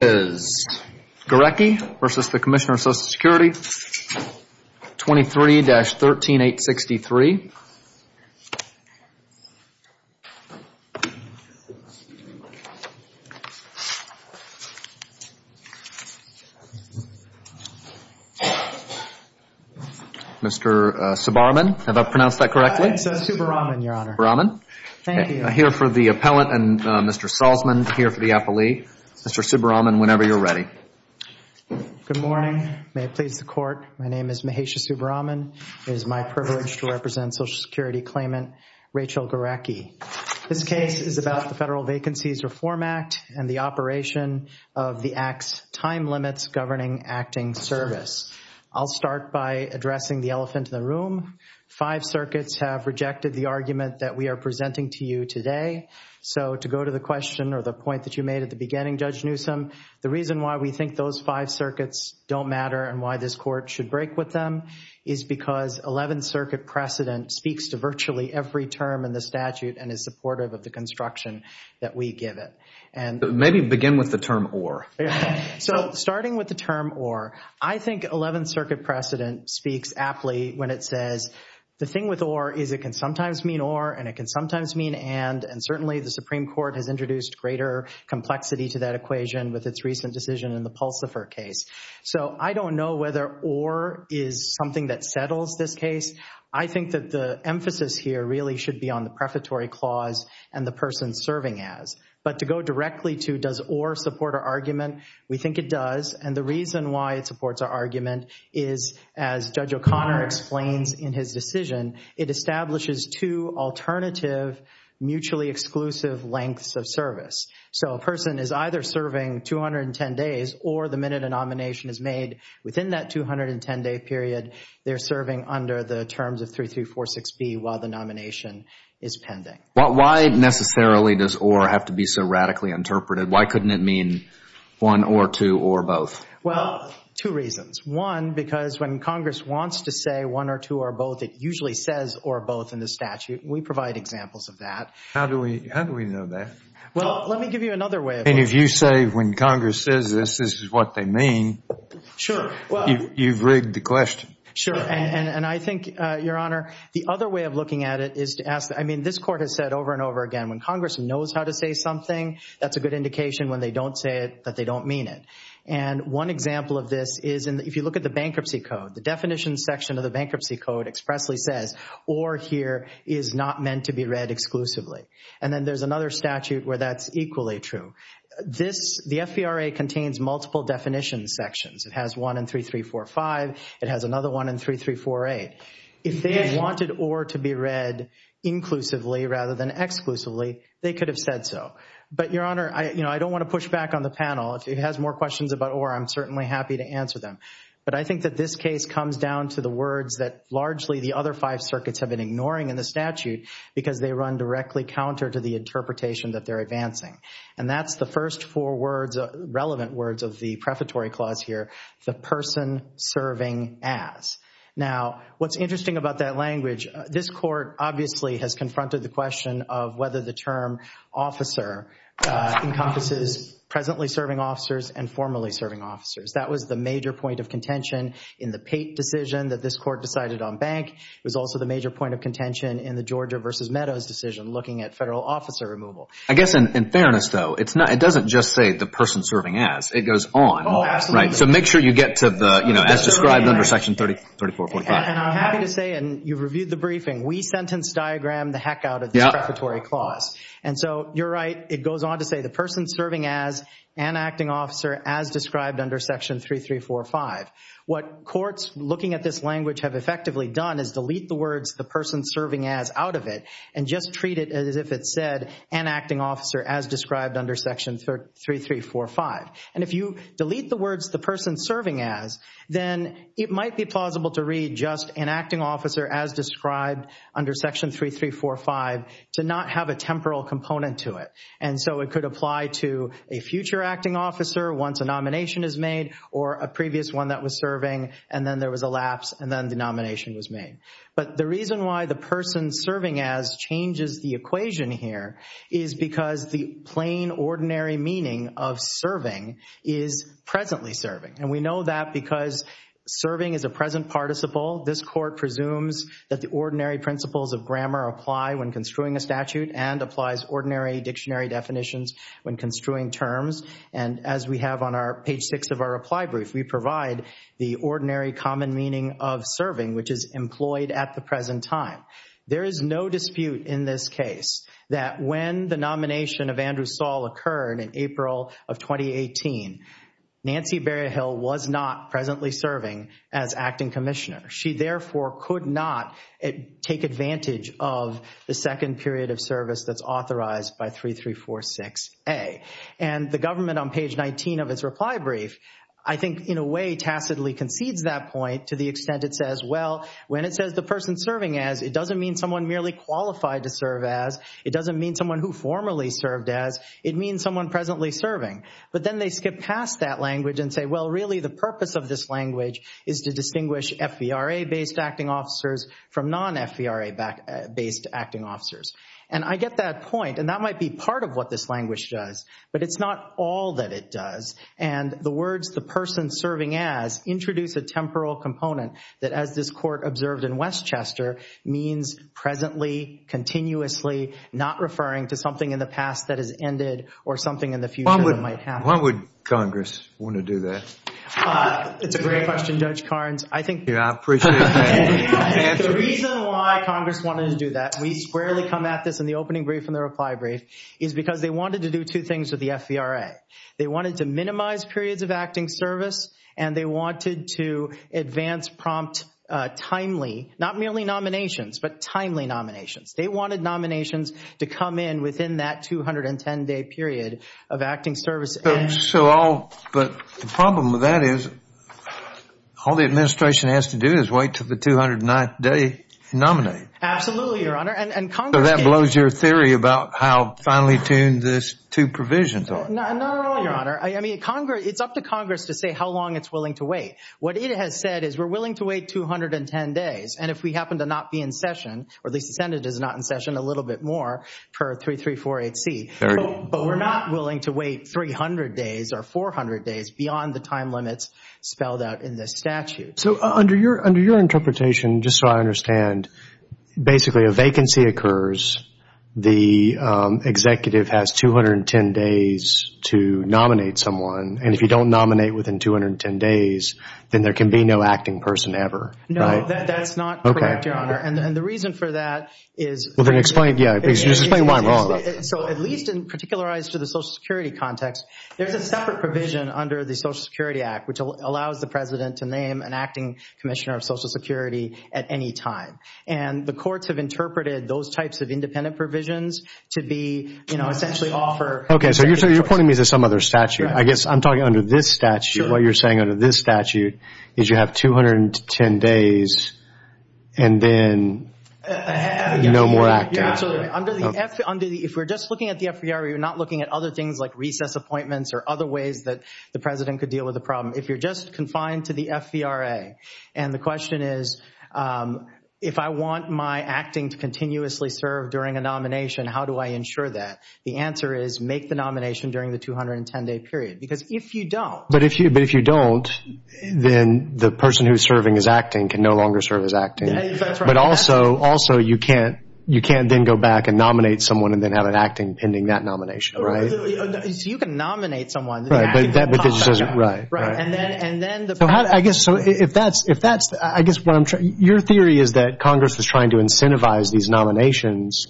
is Gorecki v. Commissioner, Social Security, 23-13863. Mr. Subaraman, have I pronounced that correctly? Subaraman, Your Honor. Thank you. I hear for the appellant and Mr. Salzman here for the appellee. Mr. Subaraman, whenever you're ready. Good morning. May it please the Court. My name is Mahesh Subaraman. It is my privilege to represent Social Security Claimant Rachel Gorecki. This case is about the Federal Vacancies Reform Act and the operation of the Act's time limits governing acting service. I'll start by addressing the elephant in the room. Five circuits have rejected the argument that we are presenting to you today. So to go to the question or the point that you made at the beginning, Judge Newsome, the reason why we think those five circuits don't matter and why this Court should break with them is because Eleventh Circuit precedent speaks to virtually every term in the statute and is supportive of the construction that we give it. Maybe begin with the term or. So starting with the term or, I think Eleventh Circuit precedent speaks aptly when it says the thing with or is it can sometimes mean or and it can sometimes mean and, and certainly the Supreme Court has introduced greater complexity to that equation with its recent decision in the Pulsifer case. So I don't know whether or is something that settles this case. I think that the emphasis here really should be on the prefatory clause and the person serving as. But to go directly to does or support our argument, we think it does. And the reason why it supports our argument is as Judge O'Connor explains in his decision, it establishes two alternative mutually exclusive lengths of service. So a person is either serving 210 days or the minute a nomination is made within that 210 day period, they're serving under the terms of 3346B while the nomination is pending. Why necessarily does or have to be so radically interpreted? Why couldn't it mean one or two or both? Well, two reasons. One, because when Congress wants to say one or two or both, it usually says or both in the statute. We provide examples of that. How do we, how do we know that? Well, let me give you another way. And if you say when Congress says this, this is what they mean, you've rigged the question. And I think, Your Honor, the other way of looking at it is to ask, I mean, this court has said over and over again, when Congress knows how to say something, that's a good indication when they don't say it, that they don't mean it. And one example of this is if you look at the bankruptcy code, the definition section of the bankruptcy code expressly says or here is not meant to be read exclusively. And then there's another statute where that's equally true. This the FVRA contains multiple definition sections. It has one in 3345, it has another one in 3348. If they had wanted or to be read inclusively rather than exclusively, they could have said so. But, Your Honor, you know, I don't want to push back on the panel. If it has more questions about or, I'm certainly happy to answer them. But I think that this case comes down to the words that largely the other five circuits have been ignoring in the statute because they run directly counter to the interpretation that they're advancing. And that's the first four words, relevant words of the prefatory clause here, the person serving as. Now, what's interesting about that language, this court obviously has confronted the question of whether the term officer encompasses presently serving officers and formerly serving officers. That was the major point of contention in the Pate decision that this court decided on bank. It was also the major point of contention in the Georgia versus Meadows decision looking at federal officer removal. I guess in fairness though, it doesn't just say the person serving as. It goes on. Oh, absolutely. Right. So make sure you get to the, you know, as described under section 3445. And I'm happy to say, and you've reviewed the briefing, we sentence diagram the heck out of the prefatory clause. And so you're right. It goes on to say the person serving as an acting officer as described under section three, three, four, five. What courts looking at this language have effectively done is delete the words, the person serving as out of it and just treat it as if it said an acting officer as described under section three, three, four, five. And if you delete the words, the person serving as, then it might be plausible to read just an acting officer as described under section three, three, four, five to not have a temporal component to it. And so it could apply to a future acting officer once a nomination is made or a previous one that was serving and then there was a lapse and then the nomination was made. But the reason why the person serving as changes the equation here is because the plain ordinary meaning of serving is presently serving. And we know that because serving is a present participle. This court presumes that the ordinary principles of grammar apply when construing a statute and applies ordinary dictionary definitions when construing terms. And as we have on our page six of our reply brief, we provide the ordinary common meaning of serving, which is employed at the present time. There is no dispute in this case that when the nomination of Andrew Saul occurred in April of 2018, Nancy Berryhill was not presently serving as acting commissioner. She therefore could not take advantage of the second period of service that's authorized by three, three, four, six, A. And the government on page 19 of its reply brief, I think, in a way, tacitly concedes that point to the extent it says, well, when it says the person serving as, it doesn't mean someone merely qualified to serve as, it doesn't mean someone who formerly served as, it means someone presently serving. But then they skip past that language and say, well, really, the purpose of this language is to distinguish FVRA-based acting officers from non-FVRA-based acting officers. And I get that point. And that might be part of what this language does. But it's not all that it does. And the words the person serving as introduce a temporal component that, as this court observed in Westchester, means presently, continuously, not referring to something in the past that has ended or something in the future that might happen. Why would Congress want to do that? It's a great question, Judge Carnes. I think the reason why Congress wanted to do that, we squarely come at this in the opening brief and the reply brief, is because they wanted to do two things with the FVRA. They wanted to minimize periods of acting service. And they wanted to advance prompt timely, not merely nominations, but timely nominations. They wanted nominations to come in within that 210-day period of acting service. So all, but the problem with that is, all the administration has to do is wait till the 209th day to nominate. Absolutely, Your Honor. And Congress can't. So that blows your theory about how finely tuned this two provisions are. Not at all, Your Honor. I mean, it's up to Congress to say how long it's willing to wait. What it has said is we're willing to wait 210 days. And if we happen to not be in session, or at least the Senate is not in session, a little bit more per 3348C, but we're not willing to wait 300 days or 400 days beyond the time limits spelled out in this statute. So under your interpretation, just so I understand, basically a vacancy occurs, the executive has 210 days to nominate someone, and if you don't nominate within 210 days, then there can be no acting person ever, right? No, that's not correct, Your Honor. And the reason for that is... Well, then explain, yeah, just explain why I'm wrong. So at least in particularized to the Social Security context, there's a separate provision under the Social Security Act, which allows the president to name an acting commissioner of Social Security at any time. And the courts have interpreted those types of independent provisions to be, you know, essentially offer... Okay, so you're pointing me to some other statute. I guess I'm talking under this statute. What you're saying under this statute is you have 210 days and then no more acting. If we're just looking at the FVRA, we're not looking at other things like recess appointments or other ways that the president could deal with the problem. If you're just confined to the FVRA, and the question is, if I want my acting to continuously serve during a nomination, how do I ensure that? The answer is make the nomination during the 210-day period. Because if you don't... But if you don't, then the person who's serving as acting can no longer serve as acting. But also, you can't then go back and nominate someone and then have an acting pending that nomination, right? So you can nominate someone, but the acting doesn't come back up. Right. And then the... I guess, so if that's... I guess what I'm trying... Your theory is that Congress was trying to incentivize these nominations,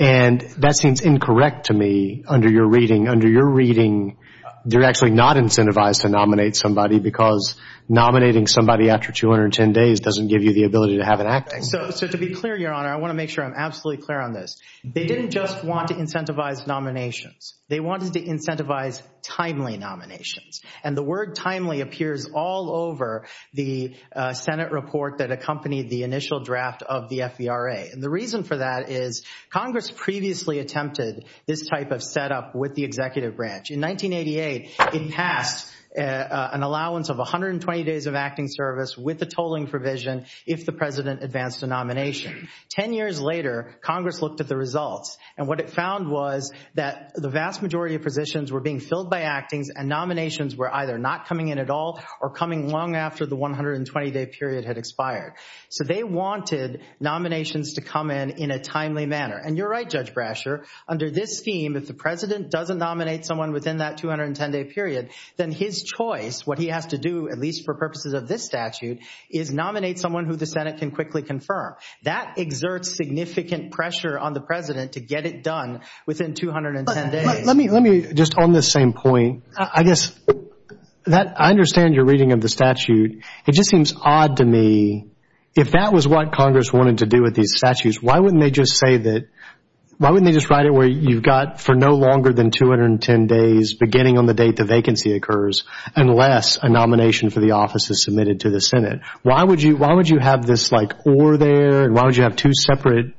and that seems incorrect to me under your reading. Under your reading, they're actually not incentivized to nominate somebody because nominating somebody after 210 days doesn't give you the ability to have an acting. So to be clear, Your Honor, I want to make sure I'm absolutely clear on this. They didn't just want to incentivize nominations. They wanted to incentivize timely nominations. And the word timely appears all over the Senate report that accompanied the initial draft of the FVRA. And the reason for that is Congress previously attempted this type of setup with the executive branch. In 1988, it passed an allowance of 120 days of acting service with the tolling provision if the president advanced a nomination. Ten years later, Congress looked at the results, and what it found was that the vast majority of positions were being filled by actings, and nominations were either not coming in at all or coming long after the 120-day period had expired. So they wanted nominations to come in in a timely manner. And you're right, Judge Brasher. Under this scheme, if the president doesn't nominate someone within that 210-day period, then his choice, what he has to do, at least for purposes of this statute, is nominate someone who the Senate can quickly confirm. That exerts significant pressure on the president to get it done within 210 days. Let me, just on this same point, I guess, I understand your reading of the statute. It just seems odd to me, if that was what Congress wanted to do with these statutes, why wouldn't they just say that, why wouldn't they just write it where you've got for no longer than 210 days, beginning on the date the vacancy occurs, unless a nomination for the office is submitted to the Senate? Why would you have this like, or there, and why would you have two separate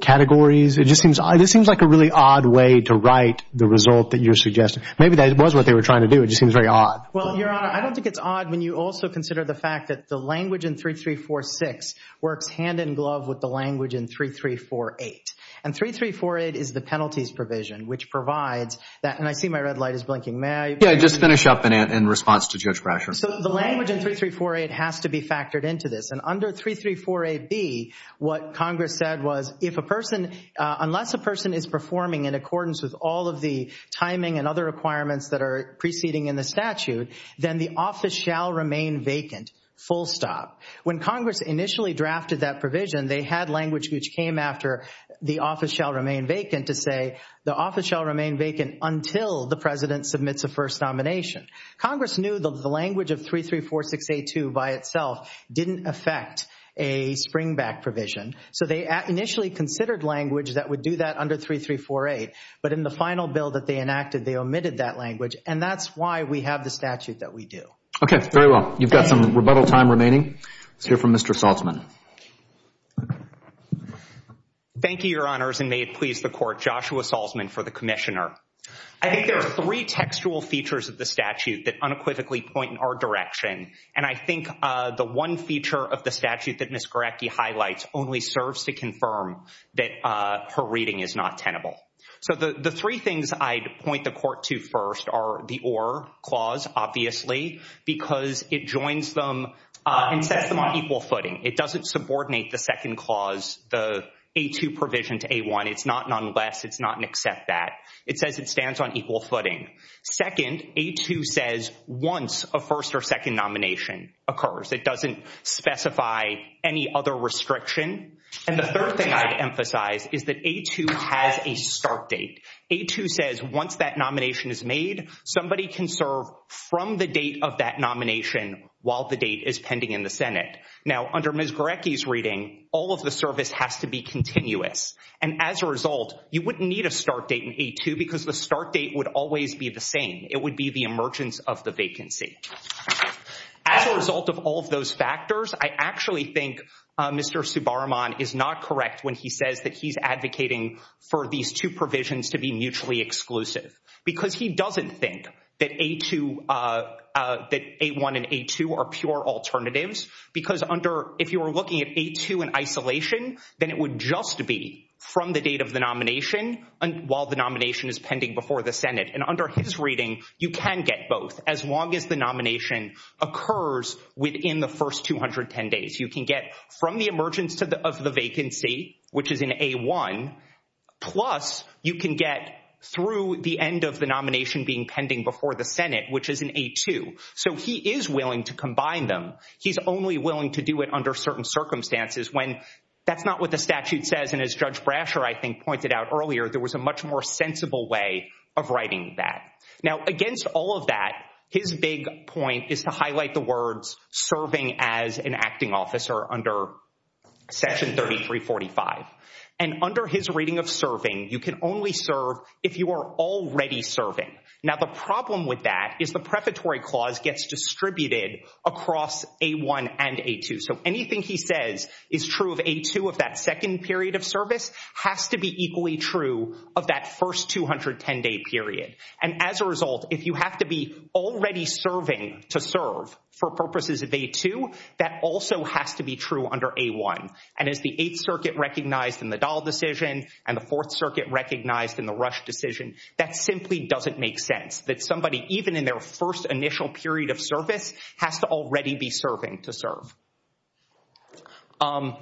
categories? It just seems like a really odd way to write the result that you're suggesting. Maybe that was what they were trying to do. It just seems very odd. Well, Your Honor, I don't think it's odd when you also consider the fact that the language in 3346 works hand-in-glove with the language in 3348. And 3348 is the penalties provision, which provides that, and I see my red light is blinking. May I? Yeah, just finish up in response to Judge Brasher. So the language in 3348 has to be factored into this, and under 3348B, what Congress said was, if a person, unless a person is performing in accordance with all of the timing and other requirements that are preceding in the statute, then the office shall remain vacant, full stop. When Congress initially drafted that provision, they had language which came after the office shall remain vacant to say, the office shall remain vacant until the President submits a first nomination. Congress knew that the language of 3346A2 by itself didn't affect a springback provision, so they initially considered language that would do that under 3348, but in the final bill that they enacted, they omitted that language, and that's why we have the statute that we do. Okay. Very well. You've got some rebuttal time remaining. Let's hear from Mr. Salzman. Thank you, Your Honors, and may it please the Court, Joshua Salzman for the Commissioner. I think there are three textual features of the statute that unequivocally point in our direction, and I think the one feature of the statute that Ms. Garecki highlights only serves to confirm that her reading is not tenable. So the three things I'd point the Court to first are the or clause, obviously, because it joins them and sets them on equal footing. It doesn't subordinate the second clause, the A2 provision to A1. It's not an unless. It's not an except that. It says it stands on equal footing. Second, A2 says once a first or second nomination occurs. It doesn't specify any other restriction. And the third thing I'd emphasize is that A2 has a start date. A2 says once that nomination is made, somebody can serve from the date of that nomination while the date is pending in the Senate. Now, under Ms. Garecki's reading, all of the service has to be continuous, and as a result, you wouldn't need a start date in A2 because the start date would always be the same. It would be the emergence of the vacancy. As a result of all of those factors, I actually think Mr. Subaraman is not correct when he says that he's advocating for these two provisions to be mutually exclusive because he doesn't think that A1 and A2 are pure alternatives because if you were looking at A2 in isolation, then it would just be from the date of the nomination while the nomination is pending before the Senate. And under his reading, you can get both as long as the nomination occurs within the first 210 days. You can get from the emergence of the vacancy, which is in A1, plus you can get through the end of the nomination being pending before the Senate, which is in A2. So he is willing to combine them. He's only willing to do it under certain circumstances when that's not what the statute says, and as Judge Brasher, I think, pointed out earlier, there was a much more sensible way of writing that. Now, against all of that, his big point is to highlight the words serving as an acting officer under Section 3345. And under his reading of serving, you can only serve if you are already serving. Now, the problem with that is the preparatory clause gets distributed across A1 and A2. So anything he says is true of A2 of that second period of service has to be equally true of that first 210-day period. And as a result, if you have to be already serving to serve for purposes of A2, that also has to be true under A1. And as the Eighth Circuit recognized in the Dahl decision and the Fourth Circuit recognized in the Rush decision, that simply doesn't make sense, that somebody, even in their first initial period of service, has to already be serving to serve.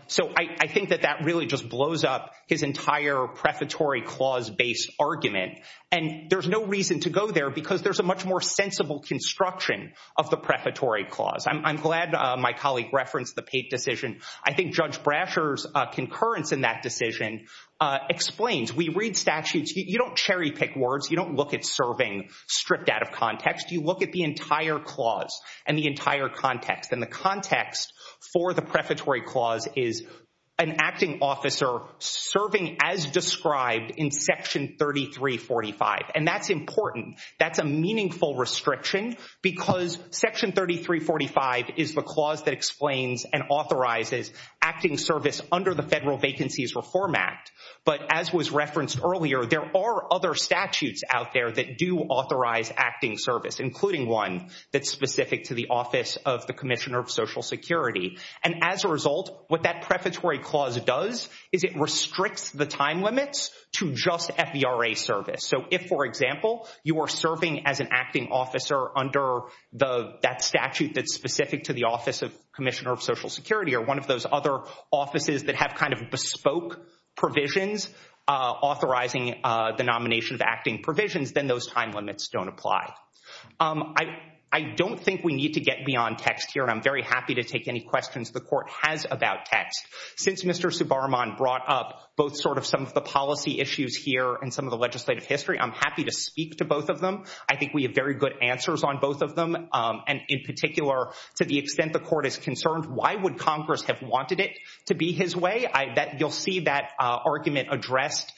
So I think that that really just blows up his entire preparatory clause-based argument. And there's no reason to go there because there's a much more sensible construction of the preparatory clause. I'm glad my colleague referenced the Pate decision. I think Judge Brasher's concurrence in that decision explains. We read statutes. You don't cherry-pick words. You don't look at serving stripped out of context. You look at the entire clause and the entire context. And the context for the preparatory clause is an acting officer serving as described in Section 3345. And that's important. That's a meaningful restriction because Section 3345 is the clause that explains and authorizes acting service under the Federal Vacancies Reform Act. But as was referenced earlier, there are other statutes out there that do authorize acting service, including one that's specific to the Office of the Commissioner of Social Security. And as a result, what that preparatory clause does is it restricts the time limits to just FVRA service. So if, for example, you are serving as an acting officer under that statute that's specific to the Office of Commissioner of Social Security or one of those other offices that have kind of bespoke provisions authorizing the nomination of acting provisions, then those time limits don't apply. I don't think we need to get beyond text here, and I'm very happy to take any questions the Court has about text. Since Mr. Subaraman brought up both sort of some of the policy issues here and some of the legislative history, I'm happy to speak to both of them. I think we have very good answers on both of them. And in particular, to the extent the Court is concerned, why would Congress have wanted it to be his way? You'll see that argument addressed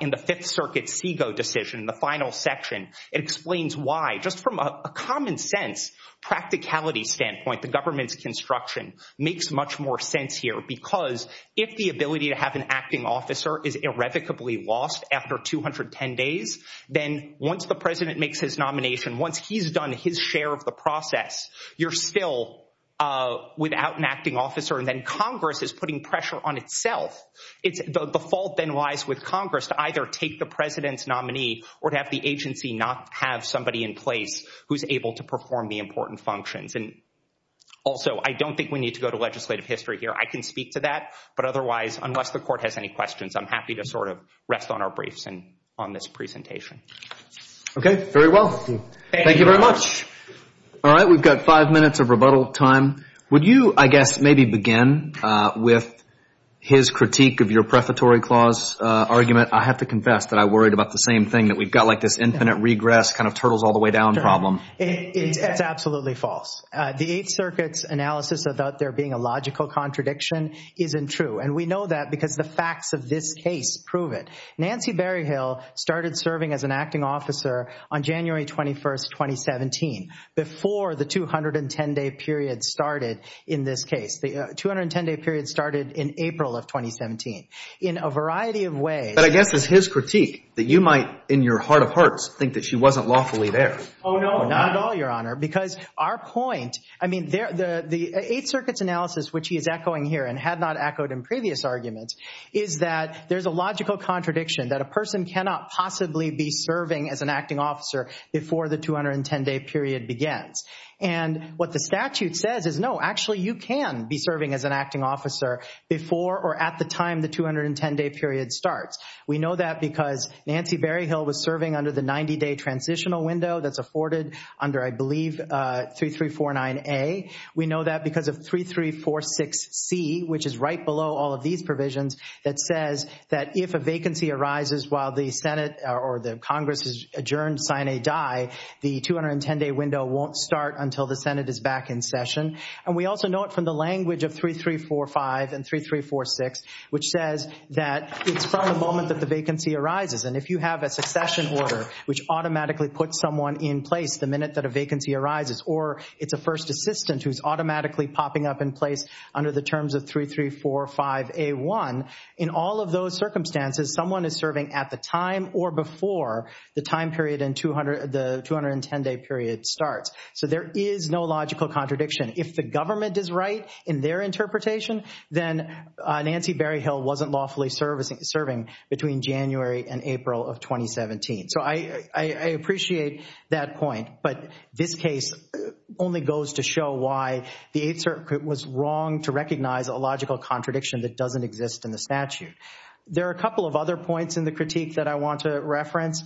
in the Fifth Circuit SIGO decision, the final section. It explains why, just from a common-sense practicality standpoint, the government's construction makes much more sense here, because if the ability to have an acting officer is irrevocably lost after 210 days, then once the President makes his nomination, once he's done his share of the process, you're still without an acting officer, and then Congress is putting pressure on itself. The fault then lies with Congress to either take the President's nominee or to have the agency not have somebody in place who's able to perform the important functions. And also, I don't think we need to go to legislative history here. I can speak to that, but otherwise, unless the Court has any questions, I'm happy to sort of rest on our briefs and on this presentation. Okay. Very well. Thank you very much. All right. We've got five minutes of rebuttal time. Would you, I guess, maybe begin with his critique of your prefatory clause argument? I have to confess that I worried about the same thing, that we've got like this infinite regress kind of turtles-all-the-way-down problem. It's absolutely false. The Eighth Circuit's analysis about there being a logical contradiction isn't true, and we know that because the facts of this case prove it. Nancy Berryhill started serving as an acting officer on January 21, 2017, before the 210-day period started in this case. The 210-day period started in April of 2017. In a variety of ways- But I guess it's his critique that you might, in your heart of hearts, think that she wasn't lawfully there. Oh, no. Not at all, Your Honor, because our point, I mean, the Eighth Circuit's analysis, which he is echoing here and had not echoed in previous arguments, is that there's a logical contradiction that a person cannot possibly be serving as an acting officer before the 210-day period begins. And what the statute says is, no, actually, you can be serving as an acting officer before or at the time the 210-day period starts. We know that because Nancy Berryhill was serving under the 90-day transitional window that's afforded under, I believe, 3349A. We know that because of 3346C, which is right below all of these provisions, that says that if a vacancy arises while the Senate or the Congress has adjourned sine die, the 210-day window won't start until the Senate is back in session. And we also know it from the language of 3345 and 3346, which says that it's from the moment that the vacancy arises. And if you have a succession order, which automatically puts someone in place the minute that a vacancy arises, or it's a first assistant who's automatically popping up in place under the terms of 3345A1, in all of those circumstances, someone is serving at the time or before the time period in the 210-day period starts. So there is no logical contradiction. If the government is right in their interpretation, then Nancy Berryhill wasn't lawfully serving between January and April of 2017. So I appreciate that point. But this case only goes to show why the Eighth Circuit was wrong to recognize a logical contradiction that doesn't exist in the statute. There are a couple of other points in the critique that I want to reference.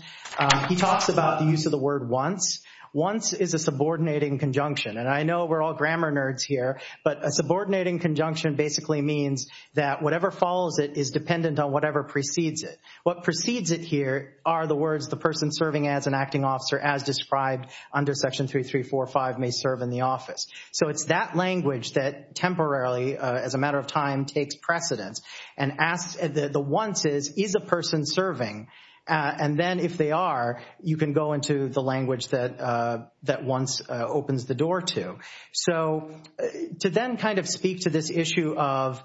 He talks about the use of the word once. Once is a subordinating conjunction. And I know we're all grammar nerds here, but a subordinating conjunction basically means that whatever follows it is dependent on whatever precedes it. What precedes it here are the words the person serving as an acting officer as described under section 3345 may serve in the office. So it's that language that temporarily, as a matter of time, takes precedence and asks the once is, is a person serving? And then if they are, you can go into the language that once opens the door to. So to then kind of speak to this issue of,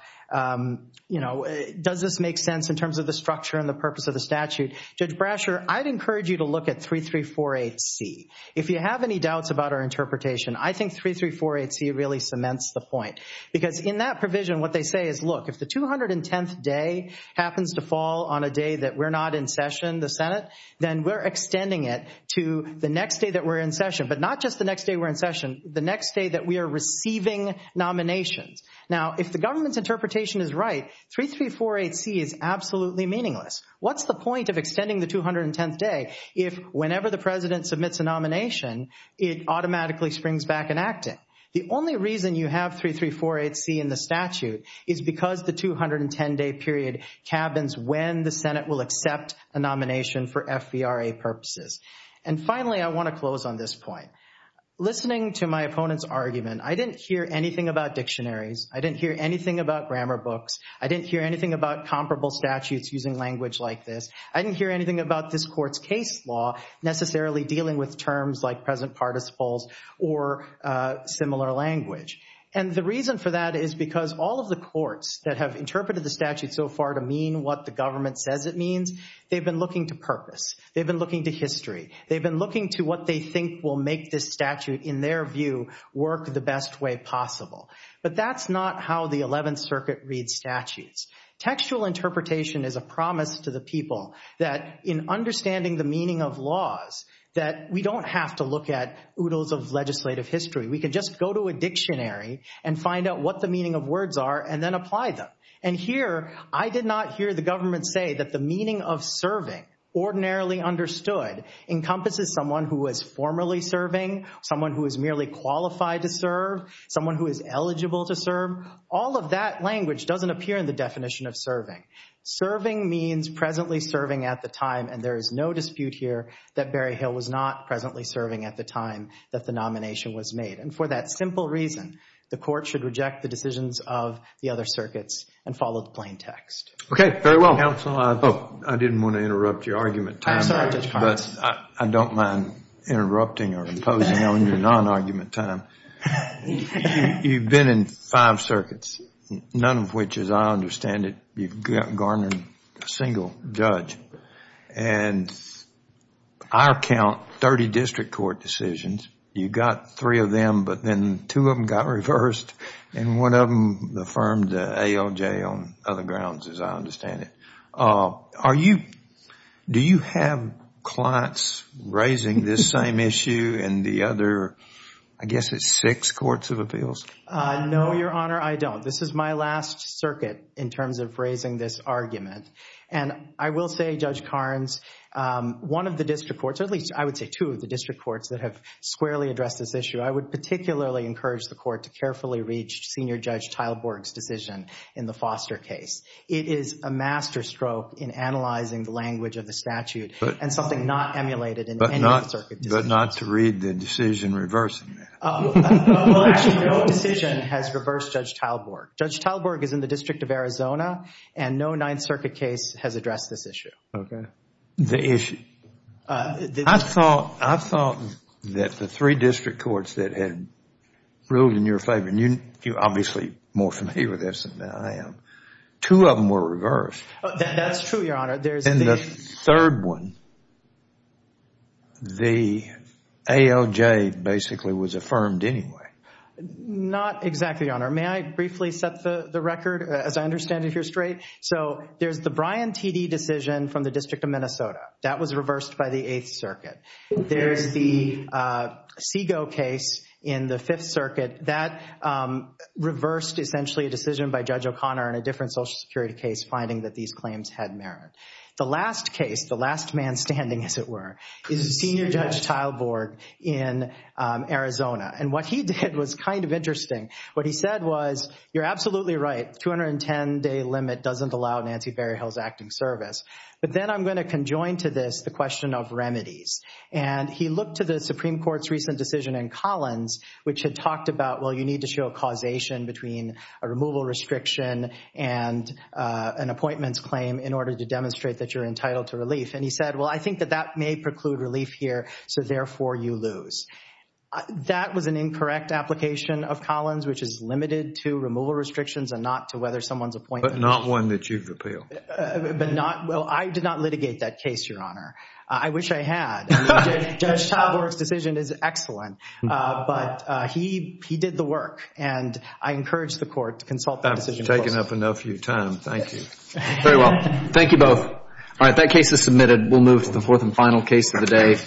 you know, does this make sense in terms of the structure and the purpose of the statute? Judge Brasher, I'd encourage you to look at 3348C. If you have any doubts about our interpretation, I think 3348C really cements the point. Because in that provision, what they say is, look, if the 210th day happens to fall on a day that we're not in session, the Senate, then we're extending it to the next day that we're in session. But not just the next day we're in session, the next day that we are receiving nominations. Now, if the government's interpretation is right, 3348C is absolutely meaningless. What's the point of extending the 210th day if whenever the President submits a nomination, it automatically springs back in acting? The only reason you have 3348C in the statute is because the 210-day period cabins when the Senate will accept a nomination for FVRA purposes. And finally, I want to close on this point. Listening to my opponent's argument, I didn't hear anything about dictionaries. I didn't hear anything about grammar books. I didn't hear anything about comparable statutes using language like this. I didn't hear anything about this court's case law necessarily dealing with terms like present participles or similar language. And the reason for that is because all of the courts that have interpreted the statute so far to mean what the government says it means, they've been looking to purpose. They've been looking to history. They've been looking to what they think will make this statute, in their view, work the best way possible. But that's not how the 11th Circuit reads statutes. Textual interpretation is a promise to the people that in understanding the meaning of laws, that we don't have to look at oodles of legislative history. We can just go to a dictionary and find out what the meaning of words are and then apply them. And here, I did not hear the government say that the meaning of serving, ordinarily understood, encompasses someone who is formally serving, someone who is merely qualified to serve, someone who is eligible to serve. All of that language doesn't appear in the definition of serving. Serving means presently serving at the time, and there is no dispute here that Barry Hill was not presently serving at the time that the nomination was made. And for that simple reason, the court should reject the decisions of the other circuits and follow the plain text. Okay. Very well. Counsel, I didn't want to interrupt your argument time, but I don't mind interrupting or imposing on your non-argument time. You've been in five circuits, none of which, as I understand it, you've garnered a single judge. And I count 30 district court decisions. You got three of them, but then two of them got reversed, and one of them affirmed AOJ on other grounds, as I understand it. Do you have clients raising this same issue in the other, I guess it's six courts of appeals? No, Your Honor, I don't. This is my last circuit in terms of raising this argument. And I will say, Judge Karnes, one of the district courts, or at least I would say two of the district courts that have squarely addressed this issue, I would particularly encourage the court to carefully reach Senior Judge Teilborg's decision in the Foster case. It is a master stroke in analyzing the language of the statute and something not emulated in any of the circuit decisions. But not to read the decision reversing that. Well, actually, no decision has reversed Judge Teilborg. Judge Teilborg is in the District of Arizona, and no Ninth Circuit case has addressed this Okay. The issue. I thought that the three district courts that had ruled in your favor, and you're obviously more familiar with this than I am, two of them were reversed. That's true, Your Honor. And the third one, the AOJ basically was affirmed anyway. Not exactly, Your Honor. May I briefly set the record as I understand it here straight? So there's the Bryan T.D. decision from the District of Minnesota. That was reversed by the Eighth Circuit. There's the SIGO case in the Fifth Circuit. That reversed essentially a decision by Judge O'Connor in a different Social Security case finding that these claims had merit. The last case, the last man standing as it were, is Senior Judge Teilborg in Arizona. And what he did was kind of interesting. What he said was, you're absolutely right, 210-day limit doesn't allow Nancy Berryhill's acting service. But then I'm going to conjoin to this the question of remedies. And he looked to the Supreme Court's recent decision in Collins, which had talked about, well, you need to show a causation between a removal restriction and an appointments claim in order to demonstrate that you're entitled to relief. And he said, well, I think that that may preclude relief here, so therefore you lose. That was an incorrect application of Collins, which is limited to removal restrictions and not to whether someone's appointed. But not one that you've repealed. But not, well, I did not litigate that case, Your Honor. I wish I had. I mean, Judge Teilborg's decision is excellent, but he did the work, and I encourage the court to consult that decision closely. I've taken up enough of your time. Thank you. Very well. Thank you both. All right, that case is submitted. We'll move to the fourth and final case of the day.